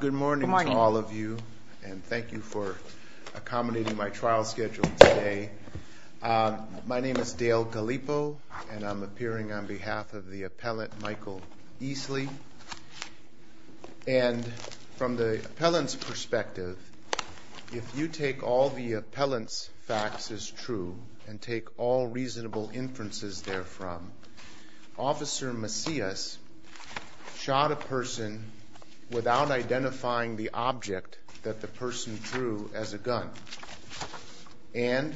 Good morning to all of you and thank you for accommodating my trial schedule today. My name is Dale Gallipo and I'm appearing on behalf of the appellant Michael Easley. And from the appellant's perspective, if you take all the appellant's facts as true and take all reasonable inferences therefrom, Officer Macias shot a person without identifying the object that the person threw as a gun and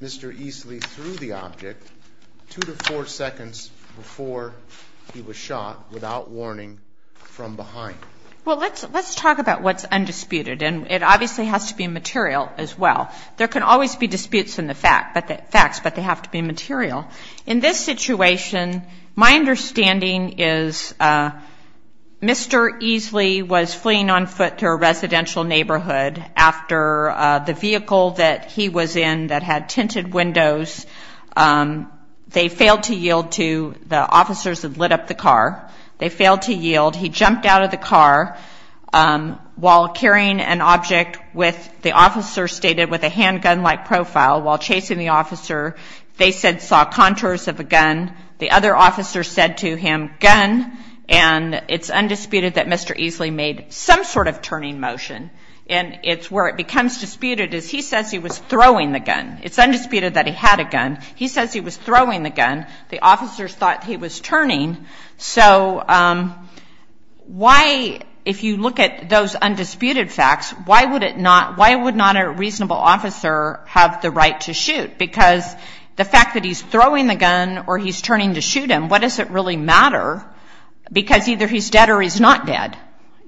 Mr. Easley threw the object two to four seconds before he was shot without warning from behind. Well let's let's talk about what's undisputed and it obviously has to be material as well. There can always be disputes in the facts but they have to be material. In this situation, my understanding is Mr. Easley was fleeing on foot to a residential neighborhood after the vehicle that he was in that had tinted windows, they failed to yield to the officers that lit up the car, they failed to yield, he jumped out of the car while carrying an object with the officer stated with a handgun-like profile while chasing the officer, they said saw contours of a gun, the other officer said to him, gun, and it's undisputed that Mr. Easley made some sort of turning motion and it's where it becomes disputed as he says he was throwing the gun. It's undisputed that he had a gun. He says he was throwing the if you look at those undisputed facts, why would it not, why would not a reasonable officer have the right to shoot? Because the fact that he's throwing the gun or he's turning to shoot him, what does it really matter? Because either he's dead or he's not dead.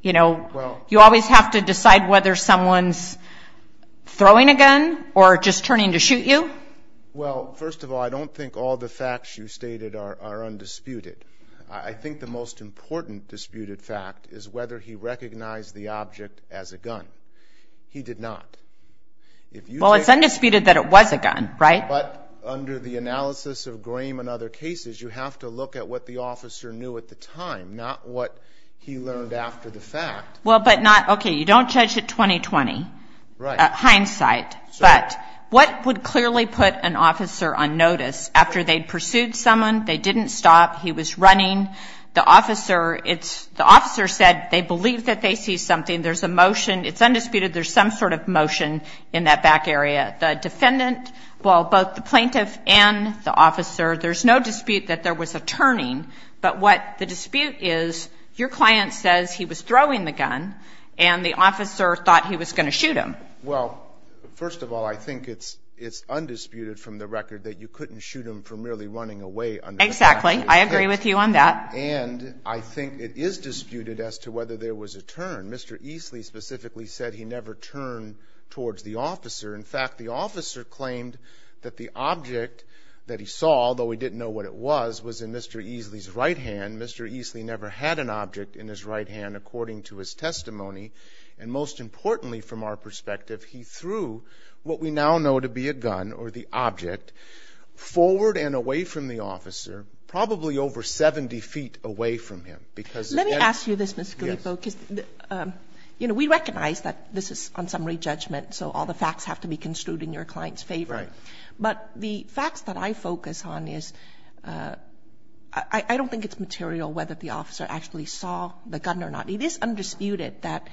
You know, you always have to decide whether someone's throwing a gun or just turning to shoot you. Well first of all, I don't think all the facts you stated are are undisputed. I think the most important disputed fact is whether he recognized the object as a gun. He did not. Well, it's undisputed that it was a gun, right? But under the analysis of Graham and other cases, you have to look at what the officer knew at the time, not what he learned after the fact. Well, but not, okay, you don't judge it 20-20. Right. Hindsight. But what would clearly put an officer on notice after they'd believed that they see something, there's a motion, it's undisputed there's some sort of motion in that back area. The defendant, well, both the plaintiff and the officer, there's no dispute that there was a turning. But what the dispute is, your client says he was throwing the gun and the officer thought he was going to shoot him. Well, first of all, I think it's undisputed from the record that you couldn't shoot him for merely running away. Exactly. I agree with you on that. And I think it is disputed as to whether there was a turn. Mr. Easley specifically said he never turned towards the officer. In fact, the officer claimed that the object that he saw, although he didn't know what it was, was in Mr. Easley's right hand. Mr. Easley never had an object in his right hand, according to his testimony. And most importantly, from our perspective, he threw what we now know to be a gun or the object forward and away from the officer, probably over 70 feet away from him. Let me ask you this, Mr. Guilipo, because, you know, we recognize that this is unsummary judgment, so all the facts have to be construed in your client's favor. Right. But the facts that I focus on is, I don't think it's material whether the officer actually saw the gun or not. It is undisputed that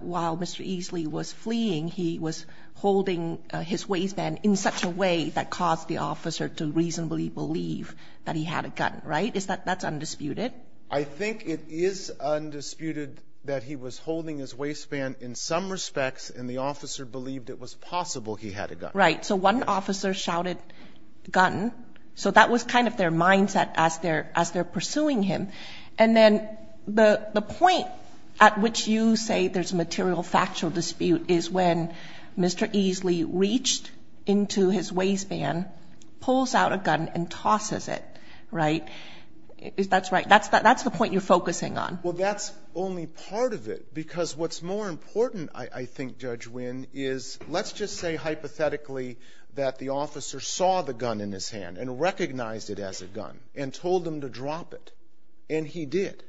while Mr. Easley was fleeing, he was holding his waistband in such a way that caused the officer to reasonably believe that he had a gun. Right. That's undisputed. I think it is undisputed that he was holding his waistband in some respects and the officer believed it was possible he had a gun. Right. So one officer shouted, gun. So that was kind of their mindset as they're pursuing him. And then the point at which you say there's a material factual dispute is when Mr. Easley reached into his waistband, pulls out a gun and tosses it. Right. That's right. That's the point you're focusing on. Well, that's only part of it, because what's more important, I think, Judge Wynn, is let's just say hypothetically that the officer saw the gun in his hand and recognized it as a gun and told him to drop it. And he did.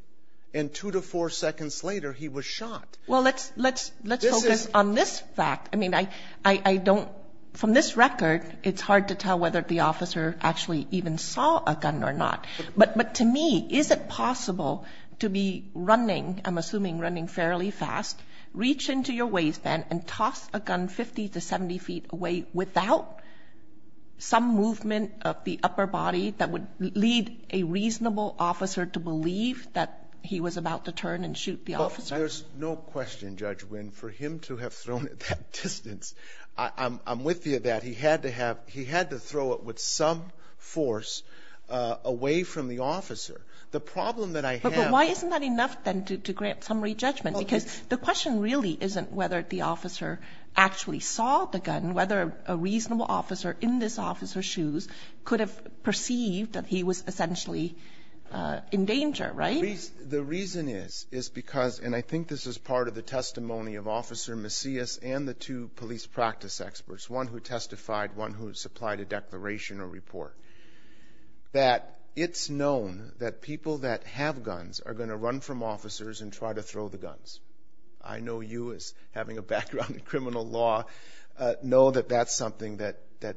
And two to four seconds later, he was shot. Well, let's let's let's focus on this fact. I mean, I don't from this record, it's hard to tell whether the officer actually even saw a gun or not. But to me, is it possible to be running? I'm assuming running fairly fast, reach into your waistband and toss a gun 50 to 70 feet away without some movement of the upper body that would lead a reasonable officer to believe that he was about to be shot. And I think that's a question, Judge Wynn, for him to have thrown at that distance. I'm with you that he had to have he had to throw it with some force away from the officer. The problem that I have But why isn't that enough then to grant summary judgment? Because the question really isn't whether the officer actually saw the gun, whether a reasonable officer in this officer's shoes could have perceived that he was essentially in danger, right? The reason is, is because, and I think this is the testimony of Officer Macias and the two police practice experts, one who testified, one who supplied a declaration or report, that it's known that people that have guns are going to run from officers and try to throw the guns. I know you as having a background in criminal law know that that's something that that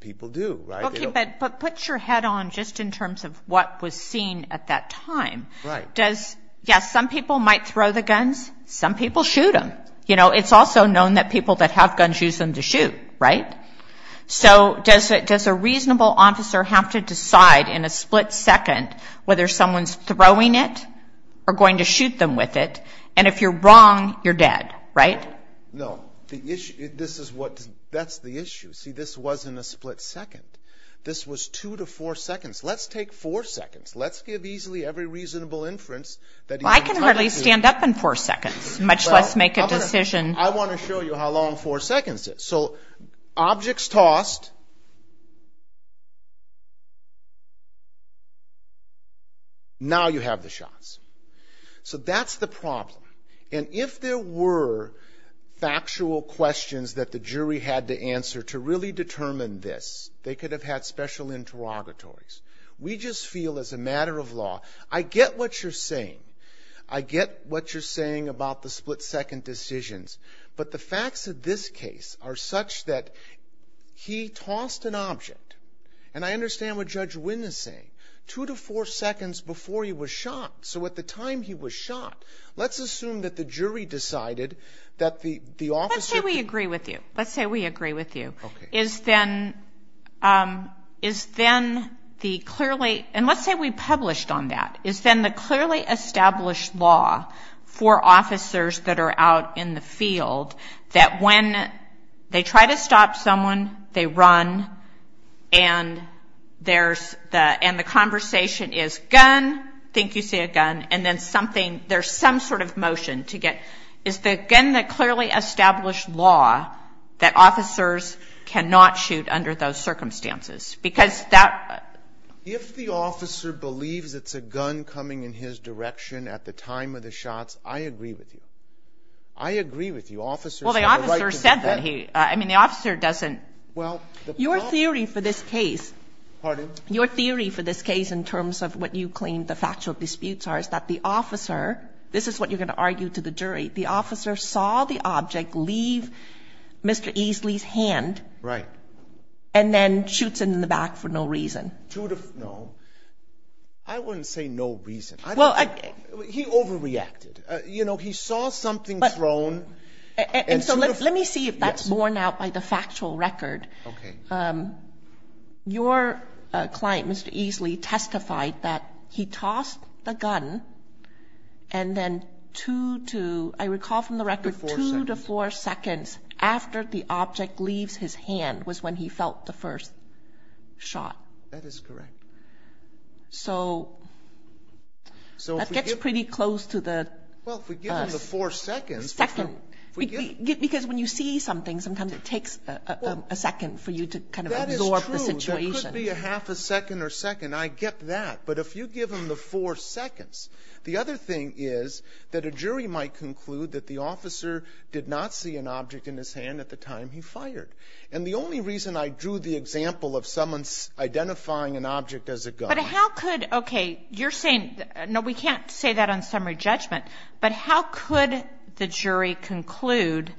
people do, right? But put your head on just in terms of what was seen at that time. Right. Does, yes, some people might throw the guns, some people shoot them. You know, it's also known that people that have guns use them to shoot, right? So does it, does a reasonable officer have to decide in a split second whether someone's throwing it or going to shoot them with it? And if you're wrong, you're dead, right? No, the issue, this is what, that's the issue. See, this wasn't a split second. This was two to four seconds. Let's take four seconds. Let's give easily every reasonable inference that I can hardly stand up in four seconds, much less make a decision. I want to show you how long four seconds is. So objects tossed. Now you have the shots. So that's the They could have had special interrogatories. We just feel as a matter of law, I get what you're saying. I get what you're saying about the split second decisions, but the facts of this case are such that he tossed an object. And I understand what Judge Wynn is saying, two to four seconds before he was shot. So at the time he was shot, let's assume that the jury decided that the, the officer... Let's say we agree with you. Let's say we agree with you. Okay. Is then, is then the clearly, and let's say we published on that, is then the clearly established law for officers that are out in the field that when they try to stop someone, they run, and there's the, and the conversation is gun, think you see a gun, and then something, there's some sort of motion to get, is then the clearly established law that officers cannot shoot under those circumstances, because that... If the officer believes it's a gun coming in his direction at the time of the shots, I agree with you. I agree with you. Officers have a right to defend... Well, the officer said that he, I mean, the officer doesn't... Well, the problem... Your theory for this case... Pardon? Your theory for this case in terms of what you claim the factual disputes are is that the officer, this is what you're going to argue to the jury, the officer saw the object leave Mr. Easley's hand... Right. And then shoots him in the back for no reason. To the... No. I wouldn't say no reason. I don't... Well, I... He overreacted. You know, he saw something thrown... And so let me see if that's borne out by the factual record. Okay. Your client, Mr. Easley, testified that he tossed the gun and then two to, I recall from the record, two to four seconds after the object leaves his hand was when he felt the first shot. That is correct. So that gets pretty close to the... Well, if we give him the four seconds... Second, because when you see something, sometimes it takes a second for you to kind of absorb the situation. That is true. There could be a half a second or second. I get that. But if you give him the four seconds, the other thing is that a jury might conclude that the officer did not see an object in his hand at the time he fired. And the only reason I drew the example of someone identifying an object as a gun... But how could... Okay, you're saying... No, we can't say that on How could the jury conclude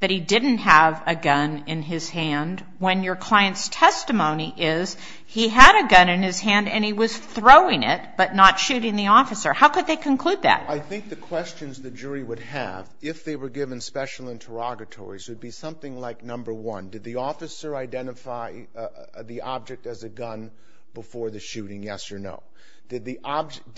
that he didn't have a gun in his hand when your client's testimony is he had a gun in his hand and he was throwing it but not shooting the officer? How could they conclude that? I think the questions the jury would have if they were given special interrogatories would be something like, number one, did the officer identify the object as a gun before the shooting, yes or no? Did the officer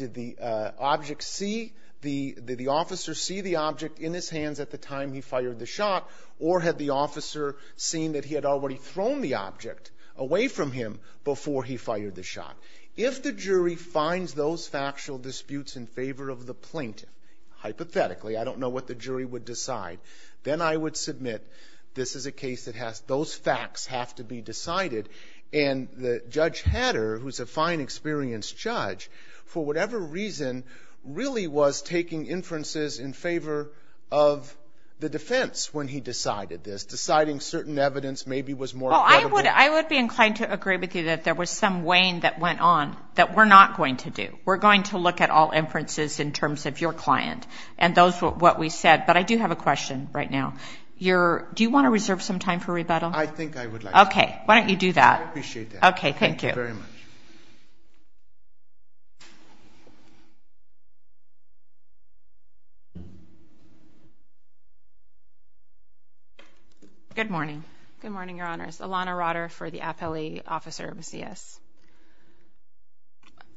see the object in his hands at the time he fired the shot or had the officer seen that he had already thrown the object away from him before he fired the shot? If the jury finds those factual disputes in favor of the plaintiff, hypothetically, I don't know what the jury would decide, then I would submit this is a case that has... Those facts have to be decided. And Judge Hatter, who's a fine, experienced judge, for whatever reason, really was taking inferences in favor of the defense when he decided this. Deciding certain evidence maybe was more credible. Well, I would be inclined to agree with you that there was some weighing that went on that we're not going to do. We're going to look at all inferences in terms of your client and those what we said. But I do have a question right now. Do you want to reserve some time for rebuttal? I think I would like to. Okay. Why don't you do that? I appreciate that. Okay. Thank you. Thank you very much. Good morning. Good morning, Your Honors. Alana Rotter for the appellee officer of CS.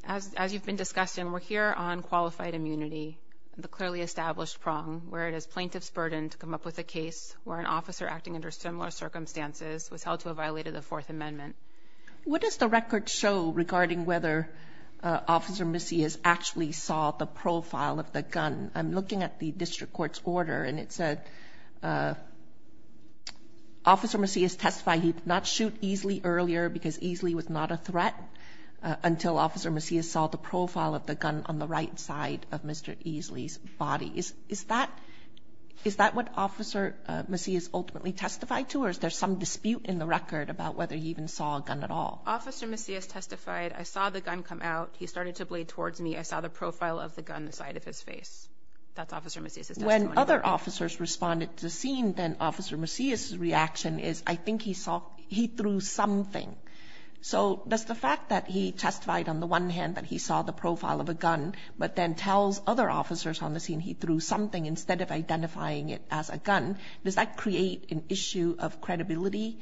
As you've been discussing, we're here on qualified immunity, the clearly established prong, where it is plaintiff's burden to come up with a case where an officer acting under similar circumstances was held to have violated the Fourth Amendment. What does the record show regarding whether Officer Macias actually saw the profile of the gun? I'm looking at the district court's order and it said Officer Macias testified he did not shoot easily earlier because easily was not a threat until Officer Macias saw the profile of the gun on the right side of Mr. Easley's body. Is that what Officer Macias ultimately testified to or is there some dispute in the record about whether he even saw a gun at all? Officer Macias testified I saw the gun come out. He started to blade towards me. I saw the profile of the gun on the side of his face. That's Officer Macias' testimony. When other officers responded to the scene, then Officer Macias' reaction is I think he saw, he threw something. So does the fact that he testified on the one hand that he saw the profile of a gun but then tells other officers on the scene he threw something instead of identifying it as a gun, does that create an issue of credibility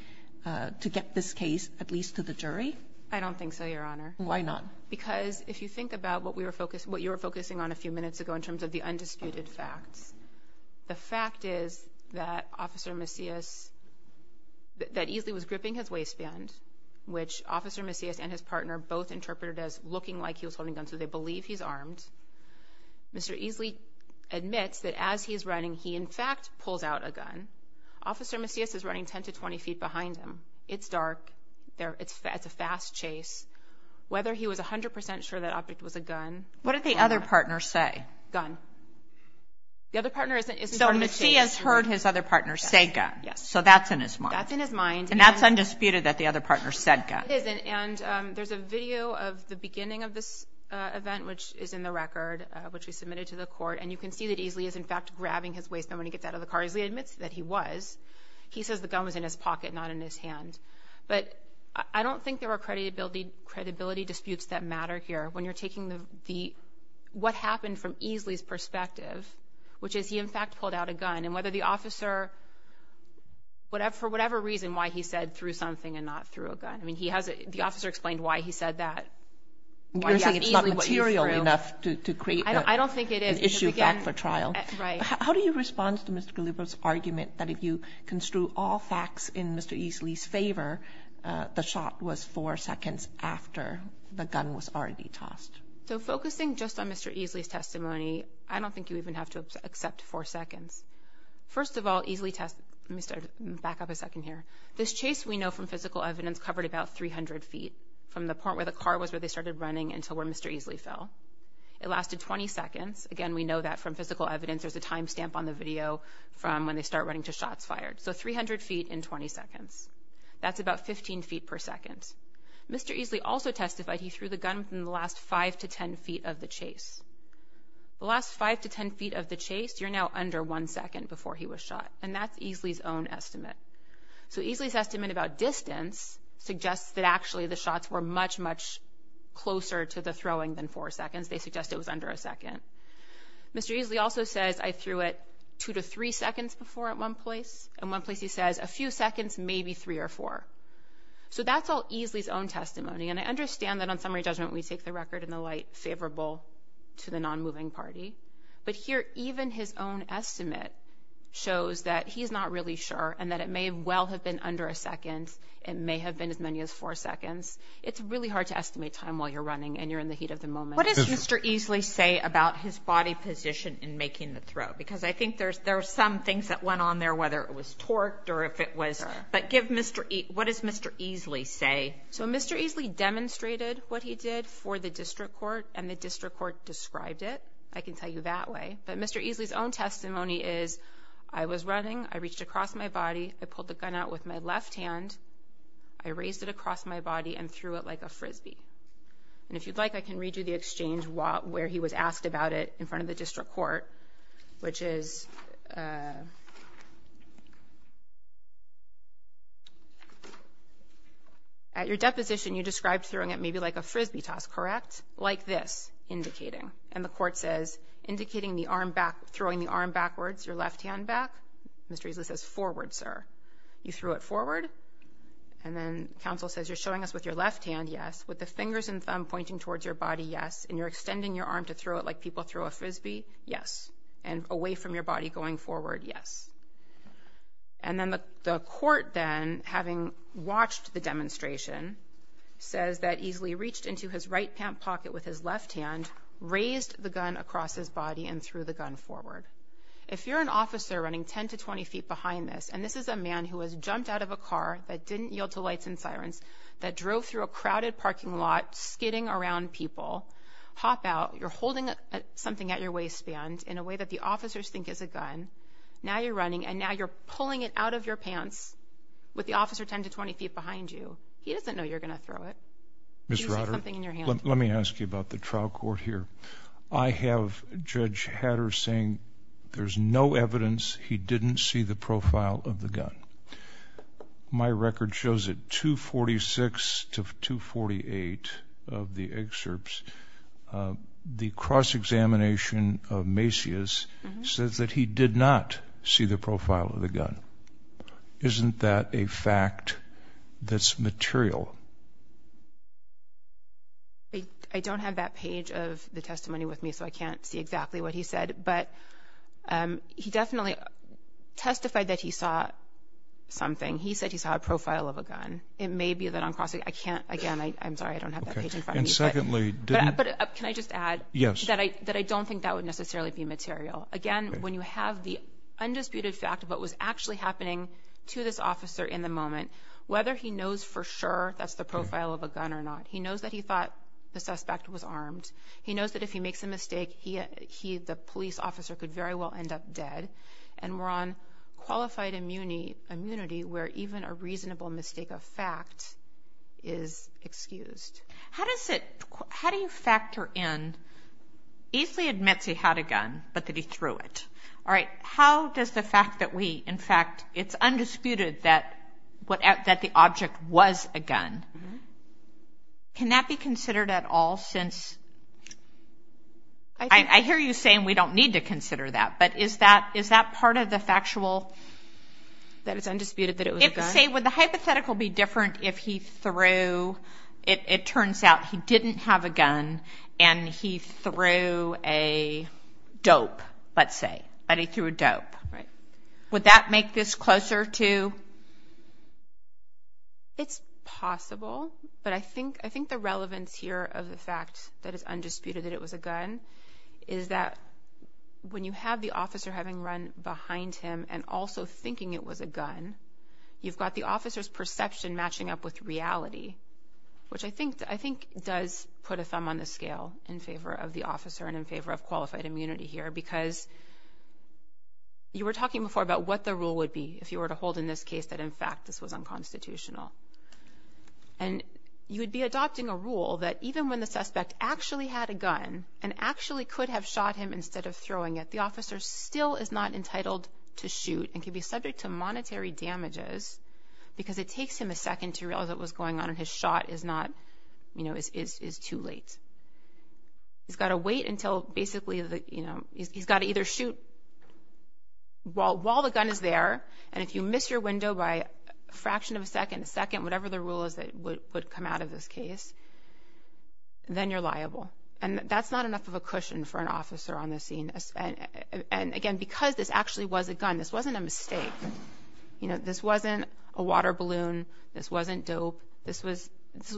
to get this case at least to the jury? I don't think so, Your Honor. Why not? Because if you think about what you were focusing on a few minutes ago in terms of the undisputed facts, the fact is that Officer Macias, that Easley was gripping his waistband, which Officer Macias and his partner both interpreted as looking like he was holding a gun so they believe he's armed. Mr. Easley admits that as he's running, he in fact pulls out a gun. Officer Macias is running 10 to 20 feet behind him. It's dark. It's a fast chase. Whether he was 100% sure that object was a gun. What did the other partner say? Gun. The other partner isn't running a chase. So Macias heard his other partner say gun. Yes. So that's in his mind. That's in his mind. And that's undisputed that the other partner said gun. It isn't. And there's a video of the beginning of this event which is in the record, which we submitted to the court. And you can see that Easley is in fact grabbing his waistband when he gets out of the car. Easley admits that he was. He says the gun was in his pocket not in his hand. But I don't think there are credibility disputes that matter here. When you're taking what happened from Easley's perspective, which is he in fact pulled out a gun. And whether the officer, for whatever reason, why he said threw something and not threw a gun. I mean, the officer explained why he said that. You're saying it's not material enough to create an issue fact for trial. I don't think it is. Right. So how do you respond to Mr. Galiber's argument that if you construe all facts in Mr. Easley's favor, the shot was four seconds after the gun was already tossed? So focusing just on Mr. Easley's testimony, I don't think you even have to accept four seconds. First of all, Easley test Mr. Backup a second here. This chase we know from physical evidence covered about 300 feet from the point where the car was where they started running until where Mr. Easley fell. It lasted 20 seconds. Again, we know that from physical evidence. There's a timestamp on the video from when they start running to shots fired. So 300 feet in 20 seconds. That's about 15 feet per second. Mr. Easley also testified he threw the gun in the last five to 10 feet of the chase. The last five to 10 feet of the chase. You're now under one second before he was shot. And that's Easley's own estimate. So Easley's estimate about distance suggests that actually the shots were much, much closer to the throwing than four seconds. They suggest it was under a second. Mr. Easley also says I threw it two to three seconds before at one place. And one place he says a few seconds, maybe three or four. So that's all Easley's own testimony. And I understand that on summary judgment we take the record in the light favorable to the non-moving party. But here even his own estimate shows that he's not really sure and that it may well have been under a second. It may have been as many as four seconds. It's really hard to estimate time while you're running and you're in the heat of the moment. What does Mr. Easley say about his body position in making the throw? Because I think there's some things that went on there, whether it was torque or if it was. But give Mr. Easley, what does Mr. Easley say? So Mr. Easley demonstrated what he did for the district court and the district court described it. I can tell you that way. But Mr. Easley's own testimony is I was running. I reached across my body. I pulled the gun out with my left hand. I raised it across my body and threw it like a Frisbee. And if you'd like, I can read you the exchange where he was asked about it in front of the district court, which is, at your deposition, you described throwing it maybe like a Frisbee toss, correct? Like this, indicating. And the court says, indicating the arm back, throwing the arm backwards, your left hand back. Mr. Easley says, forward, sir. You threw it forward. And then counsel says, you're showing us with your left hand, yes. With the fingers and thumb pointing towards your body, yes. And you're extending your arm to throw it like people throw a Frisbee, yes. And away from your body going forward, yes. And then the court then, having watched the demonstration, says that Easley reached into his right pant pocket with his left hand, raised the gun across his body and threw the gun forward. If you're an that didn't yield to lights and sirens, that drove through a crowded parking lot, skidding around people, hop out, you're holding something at your waistband in a way that the officers think is a gun. Now you're running and now you're pulling it out of your pants with the officer 10 to 20 feet behind you. He doesn't know you're going to throw it. Ms. Rotter, let me ask you about the trial court here. I have Judge Hatter saying there's no evidence he didn't see the profile of the gun. My record shows that 246 to 248 of the excerpts, the cross-examination of Macias says that he did not see the profile of the gun. Isn't that a fact that's material? I don't have that page of the testimony with me, so I can't see exactly what he said. But he definitely testified that he saw something. He said he saw a profile of a gun. It may be that I'm crossing, I can't, again, I'm sorry, I don't have that page in front of me. But can I just add that I don't think that would necessarily be material. Again, when you have the undisputed fact of what was actually happening to this officer in the moment, whether he knows for sure that's the profile of a gun or not, he knows that he thought the suspect was armed. He knows that if makes a mistake, the police officer could very well end up dead. And we're on qualified immunity where even a reasonable mistake of fact is excused. How does it, how do you factor in, Eastley admits he had a gun, but that he threw it. All right, how does the fact that we, in fact, it's undisputed that the object was a gun, can that be considered at all since I hear you saying we don't need to consider that, but is that part of the factual that it's undisputed that it was a gun? Say, would the hypothetical be different if he threw, it turns out he didn't have a gun and he threw a dope, let's say, but he threw a dope. Right. Would that make this closer to? It's possible, but I think the relevance here of the fact that it's undisputed that it was a is that when you have the officer having run behind him and also thinking it was a gun, you've got the officer's perception matching up with reality, which I think, I think does put a thumb on the scale in favor of the officer and in favor of qualified immunity here because you were talking before about what the rule would be if you were to hold in this case that, in fact, this was unconstitutional and you would be adopting a rule that even when the suspect actually had a gun and actually could have shot him instead of throwing it, the officer still is not entitled to shoot and can be subject to monetary damages because it takes him a second to realize what was going on and his shot is not, you know, is too late. He's got to wait until basically, you know, he's got to either shoot while the gun is there and if you miss your window by a fraction of a second, a second, whatever the rule is that would come out of this case, then you're liable and that's not enough of a cushion for an officer on the scene. And again, because this actually was a gun, this wasn't a mistake, you know, this wasn't a water balloon, this wasn't dope, this was,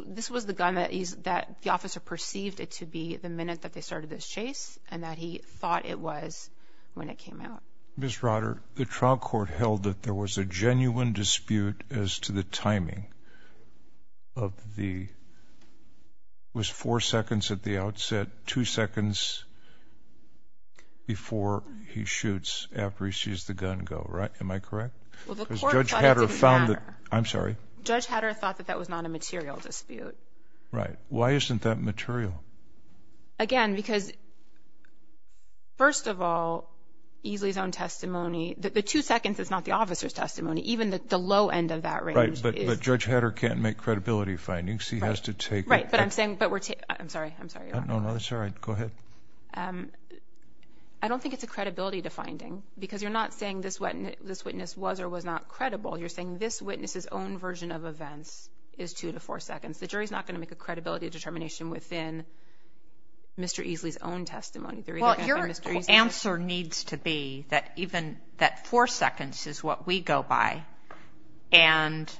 this was the gun that he's, that the officer perceived it to be the minute that they started this chase and that he thought it was when it came out. Ms. Rotter, the trial court held that there was a genuine dispute as to the timing of the, was four seconds at the outset, two seconds before he shoots after he sees the gun go, right? Am I correct? Well, the court thought it didn't matter. I'm sorry? Judge Hatter thought that that was not a material dispute. Right. Why isn't that material? Again, because first of all, Easley's own testimony, the two seconds is not the officer's testimony, even the low end of that range. But Judge Hatter can't make credibility findings. He has to take. Right. But I'm saying, but we're, I'm sorry, I'm sorry. No, no, that's all right. Go ahead. I don't think it's a credibility to finding because you're not saying this witness was or was not credible. You're saying this witness's own version of events is two to four seconds. The jury's not going to make a credibility determination within Mr. Easley's own testimony. Well, your answer needs to be that even that four seconds is what we go by and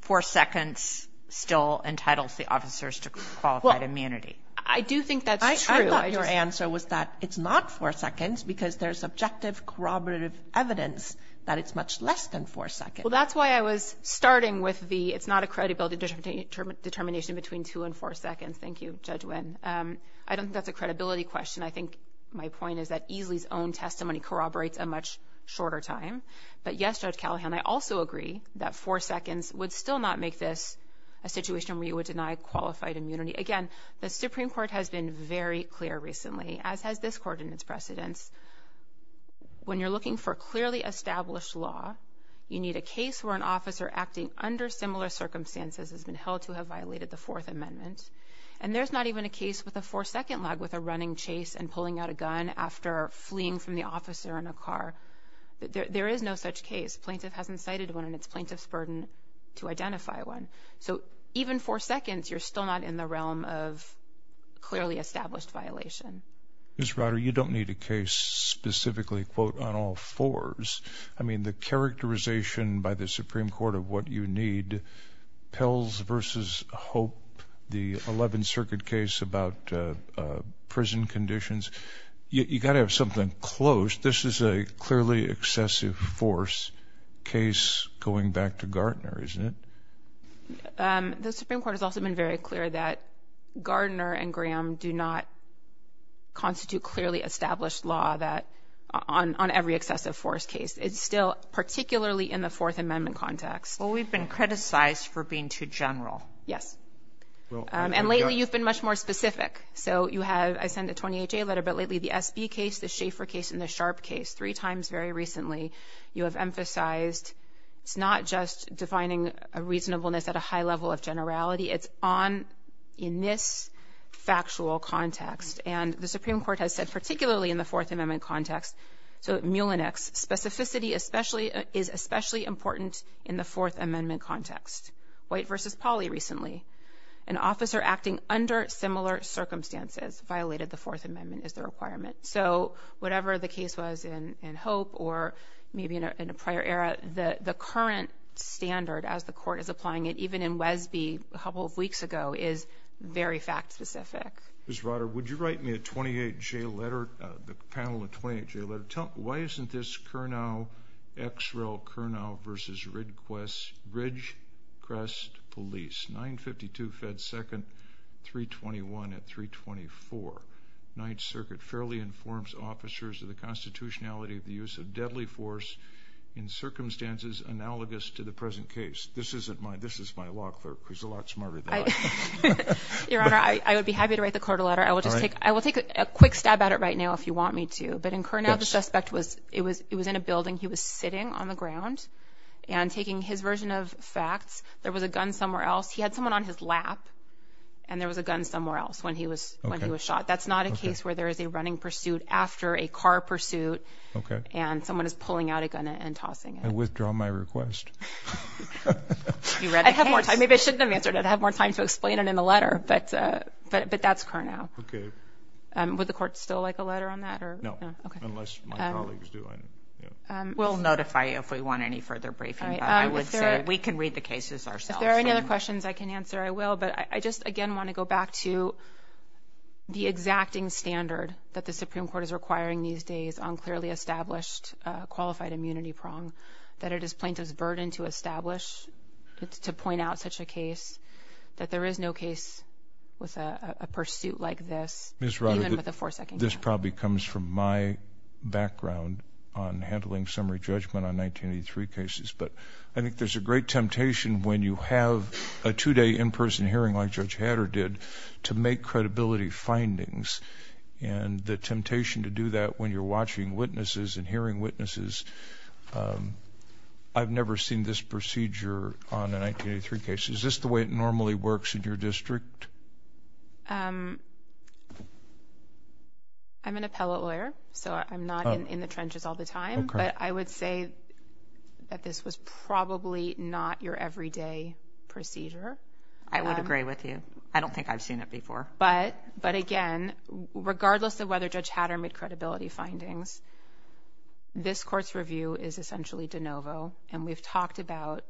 four seconds still entitles the officers to qualified immunity. I do think that's true. I thought your answer was that it's not four seconds because there's subjective corroborative evidence that it's much less than four seconds. Well, that's why I was starting with the, it's not a credibility determination between two and four seconds. Thank you, Judge Winn. I don't think that's a credibility question. I think my point is that Easley's own testimony corroborates a much shorter time. But yes, Judge Callahan, I also agree that four seconds would still not make this a situation where you would deny qualified immunity. Again, the Supreme Court has been very clear recently, as has this court in its precedence. When you're looking for clearly established law, you need a case where an officer acting under similar circumstances has been held to have violated the Fourth Amendment. And there's not even a case with a four-second lag with a running chase and pulling out a gun after fleeing from the officer in a car. There is no such case. Plaintiff hasn't cited one and it's plaintiff's burden to identify one. So even four seconds, you're still not in the realm of clearly established violation. Ms. Ryder, you don't need a case specifically, quote, on all fours. I mean, characterization by the Supreme Court of what you need, Pills v. Hope, the 11th Circuit case about prison conditions, you got to have something close. This is a clearly excessive force case going back to Gartner, isn't it? The Supreme Court has also been very clear that Gartner and Graham do not constitute clearly established law that on every excessive force case. It's still particularly in the Fourth Amendment context. Well, we've been criticized for being too general. Yes. And lately, you've been much more specific. So you have, I send a 28-J letter, but lately the SB case, the Schaefer case and the Sharp case, three times very recently, you have emphasized it's not just defining a reasonableness at a high level of generality, it's on in this factual context. And the Supreme Court has said, particularly in the Fourth Amendment context. White v. Pauley recently, an officer acting under similar circumstances violated the Fourth Amendment as the requirement. So whatever the case was in Hope or maybe in a prior era, the current standard as the court is applying it, even in Wesby a couple of weeks ago, is very fact-specific. Ms. Ryder, would you write me a 28-J letter, the panel, a 28-J letter? Why isn't this Kurnow, Xrel, Kurnow v. Ridgecrest Police, 952 Fed 2nd, 321 at 324. Ninth Circuit fairly informs officers of the constitutionality of the use of deadly force in circumstances analogous to the present case. This is my law clerk. He's a lot smarter than I am. Your Honor, I would be happy to write the court a letter. I will take a quick stab at it right now if you want me to. But in Kurnow, the suspect was in a building. He was sitting on the ground and taking his version of facts. There was a gun somewhere else. He had someone on his lap and there was a gun somewhere else when he was shot. That's not a case where there is a running pursuit after a car pursuit and someone is pulling out a gun and tossing it. I withdraw my request. You read the case. I'd have more time. Maybe I shouldn't have answered it. I'd have more time to explain it in the letter. But that's Kurnow. Okay. Would the court still like a letter on that? No, unless my colleagues do. We'll notify you if we want any further briefing. I would say we can read the cases ourselves. If there are any other questions I can answer, I will. But I just again want to go back to the exacting standard that the Supreme Court is requiring these days on clearly established qualified immunity prong that it is plaintiff's burden to establish, to point out such a case, that there is no case with a pursuit like this, even with a four-second gap. This probably comes from my background on handling summary judgment on 1983 cases. But I think there's a great temptation when you have a two-day in-person hearing like Judge Hatter did to make credibility findings. And the temptation to do that when you're watching witnesses and hearing witnesses. I've never seen this procedure on a 1983 case. Is this the way it normally works in your district? I'm an appellate lawyer. So I'm not in the trenches all the time. But I would say that this was probably not your everyday procedure. I would agree with you. I don't think I've seen it before. But again, regardless of whether Judge Hatter made credibility findings, this court's review is essentially de novo. And we've talked about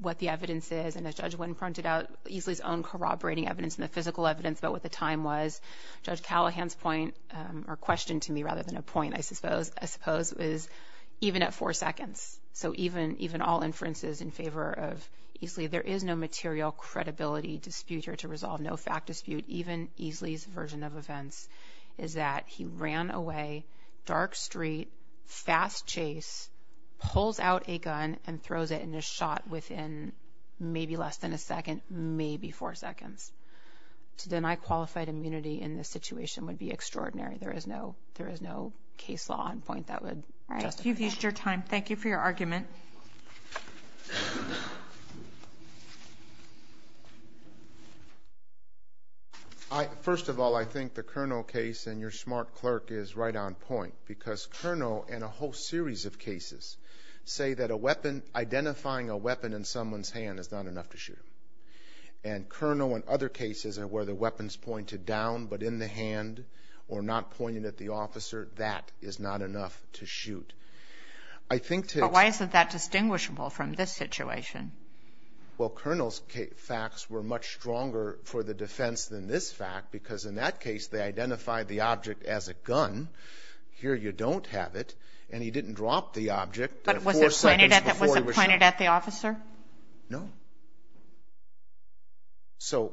what the evidence is. And as Judge Wynne pointed out, Easley's own corroborating evidence and the physical evidence about what the time was. Judge Callahan's point, or question to me rather than a point, I suppose, is even at four seconds. So even all inferences in favor of Easley, there is no material credibility dispute here to resolve. No fact dispute. Even Easley's version of events is that he ran away dark street, fast chase, pulls out a gun and throws it in a shot within maybe less than a second, maybe four seconds. To deny qualified immunity in this situation would be extraordinary. There is no case law on point that would justify it. All right. You've used your time. Thank you for your argument. First of all, I think the Kernel case and your smart clerk is right on point. Because Kernel and a whole series of cases say that identifying a weapon in someone's hand is not enough to shoot. And Kernel and other cases are where the weapon's pointed down, but in the hand or not pointed at the officer, that is not enough to shoot. I think to... But why isn't that distinguishable from this situation? Well, Kernel's facts were much stronger for the defense than this fact, because in that case, they identified the object as a gun. Here, you don't have it. And he didn't drop the object... But was it pointed at the officer? No. So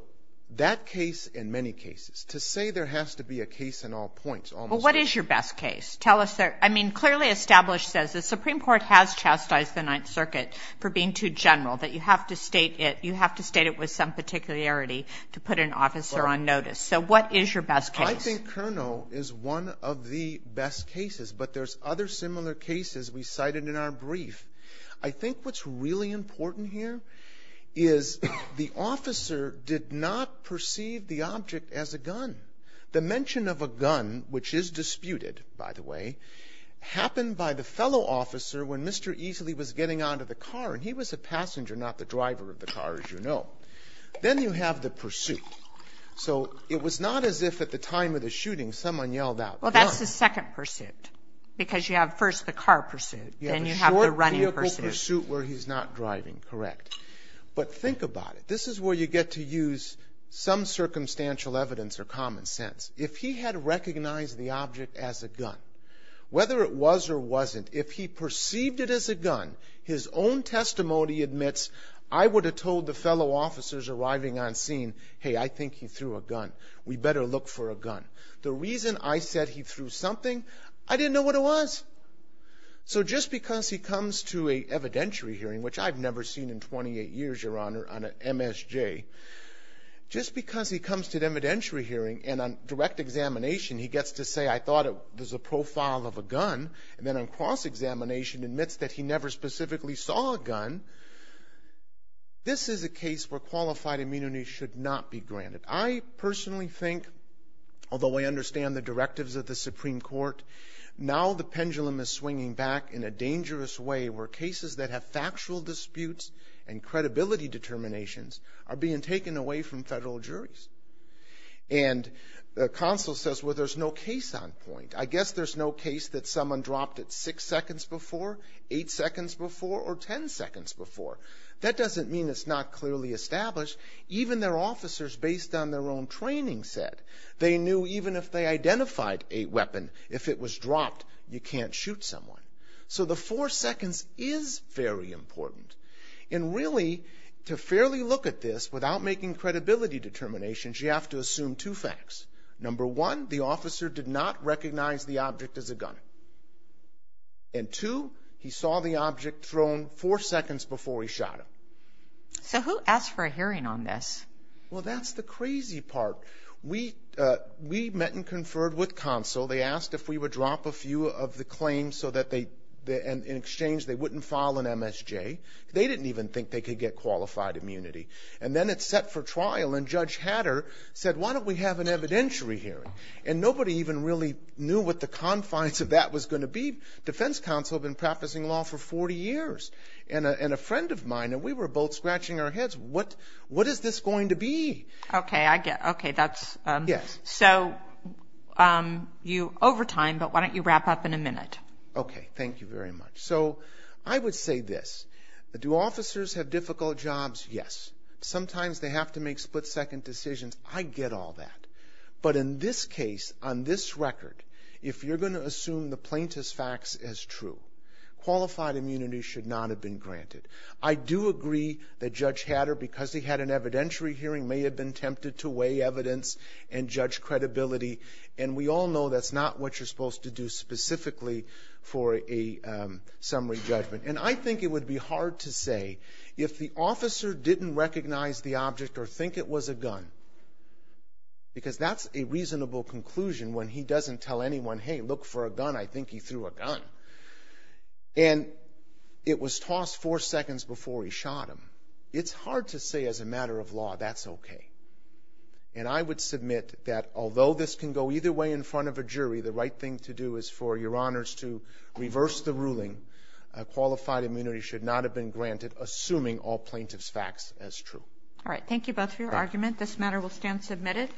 that case, in many cases, to say there has to be a case in all points almost... Well, what is your best case? Tell us. I mean, clearly established says the Supreme Court has chastised the Ninth Circuit for being too general, that you have to state it with some particularity to put an officer on notice. So what is your best case? I think Kernel is one of the best cases, but there's other similar cases we cited in our brief. I think what's really important here is the officer did not perceive the object as a gun. The mention of a gun, which is disputed, by the way, happened by the fellow officer when Mr. Easley was getting out of the car. And he was a passenger, not the driver of the car, as you know. Then you have the pursuit. So it was not as if at the time of the shooting, someone yelled out, gun. Well, that's the second pursuit, because you have first the car pursuit, then you have the running pursuit. The short vehicle pursuit where he's not driving, correct. But think about it. This is where you get to use some circumstantial evidence or common sense. If he had recognized the object as a gun, whether it was or wasn't, if he perceived it as a gun, his own testimony admits, I would have told the fellow officers arriving on scene, hey, I think he threw a gun. We better look for a gun. The reason I said he threw something, I didn't know what it was. So just because he comes to an evidentiary hearing, which I've never seen in 28 years, Your Honor, on an MSJ, just because he comes to an evidentiary hearing and on direct examination, he gets to say, I thought it was a profile of a gun. And then on cross-examination admits that he never specifically saw a gun. This is a case where qualified immunity should not be granted. I personally think, although I understand the directives of the Supreme Court, now the pendulum is swinging back in a dangerous way where cases that have factual disputes and credibility determinations are being taken away from federal juries. And the counsel says, well, there's no case on point. I guess there's no case that someone dropped it six seconds before, eight seconds before, or 10 seconds before. That doesn't mean it's not clearly established. Even their officers based on their own training said they knew even if they identified a weapon, if it was dropped, you can't shoot someone. So the four seconds is very important. And really, to fairly look at this without making credibility determinations, you have to assume two facts. Number one, the officer did not recognize the object as a gun. And two, he saw the object thrown four seconds before he shot him. So who asked for a hearing on this? Well, that's the crazy part. We met and conferred with counsel. They asked if we would drop a few of the claims so that they, in exchange, they wouldn't file an MSJ. They didn't even think they could get qualified immunity. And then it's set for trial. And Judge Hatter said, why don't we have an evidentiary hearing? And nobody even really knew what the confines of that was going to be. Defense counsel had been practicing law for 40 years. And a friend of mine, and we were both scratching our heads, what is this going to be? Okay, I get it. Okay, that's... Yes. So you're over time, but why don't you wrap up in a minute? Okay, thank you very much. So I would say this. Do officers have difficult jobs? Yes. Sometimes they have to make split-second decisions. I get all that. But in this case, on this record, if you're going to assume the plaintiff's facts as true, qualified immunity should not have been granted. I do agree that Judge Hatter, because he had an evidentiary hearing, may have been tempted to weigh evidence and judge credibility. And we all know that's not what you're supposed to do specifically for a summary judgment. And I think it would be hard to say, if the officer didn't recognize the object or think it was a gun, because that's a reasonable conclusion when he doesn't tell anyone, hey, look for a gun. I think he threw a gun. And it was tossed four seconds before he shot him. It's hard to say as a matter of law, that's okay. And I would submit that although this can go either way in front of a jury, the right thing to do is for your honors to reverse the ruling. Qualified immunity should not have been granted, assuming all plaintiff's facts as true. All right. Thank you both for your argument. This matter will stand submitted.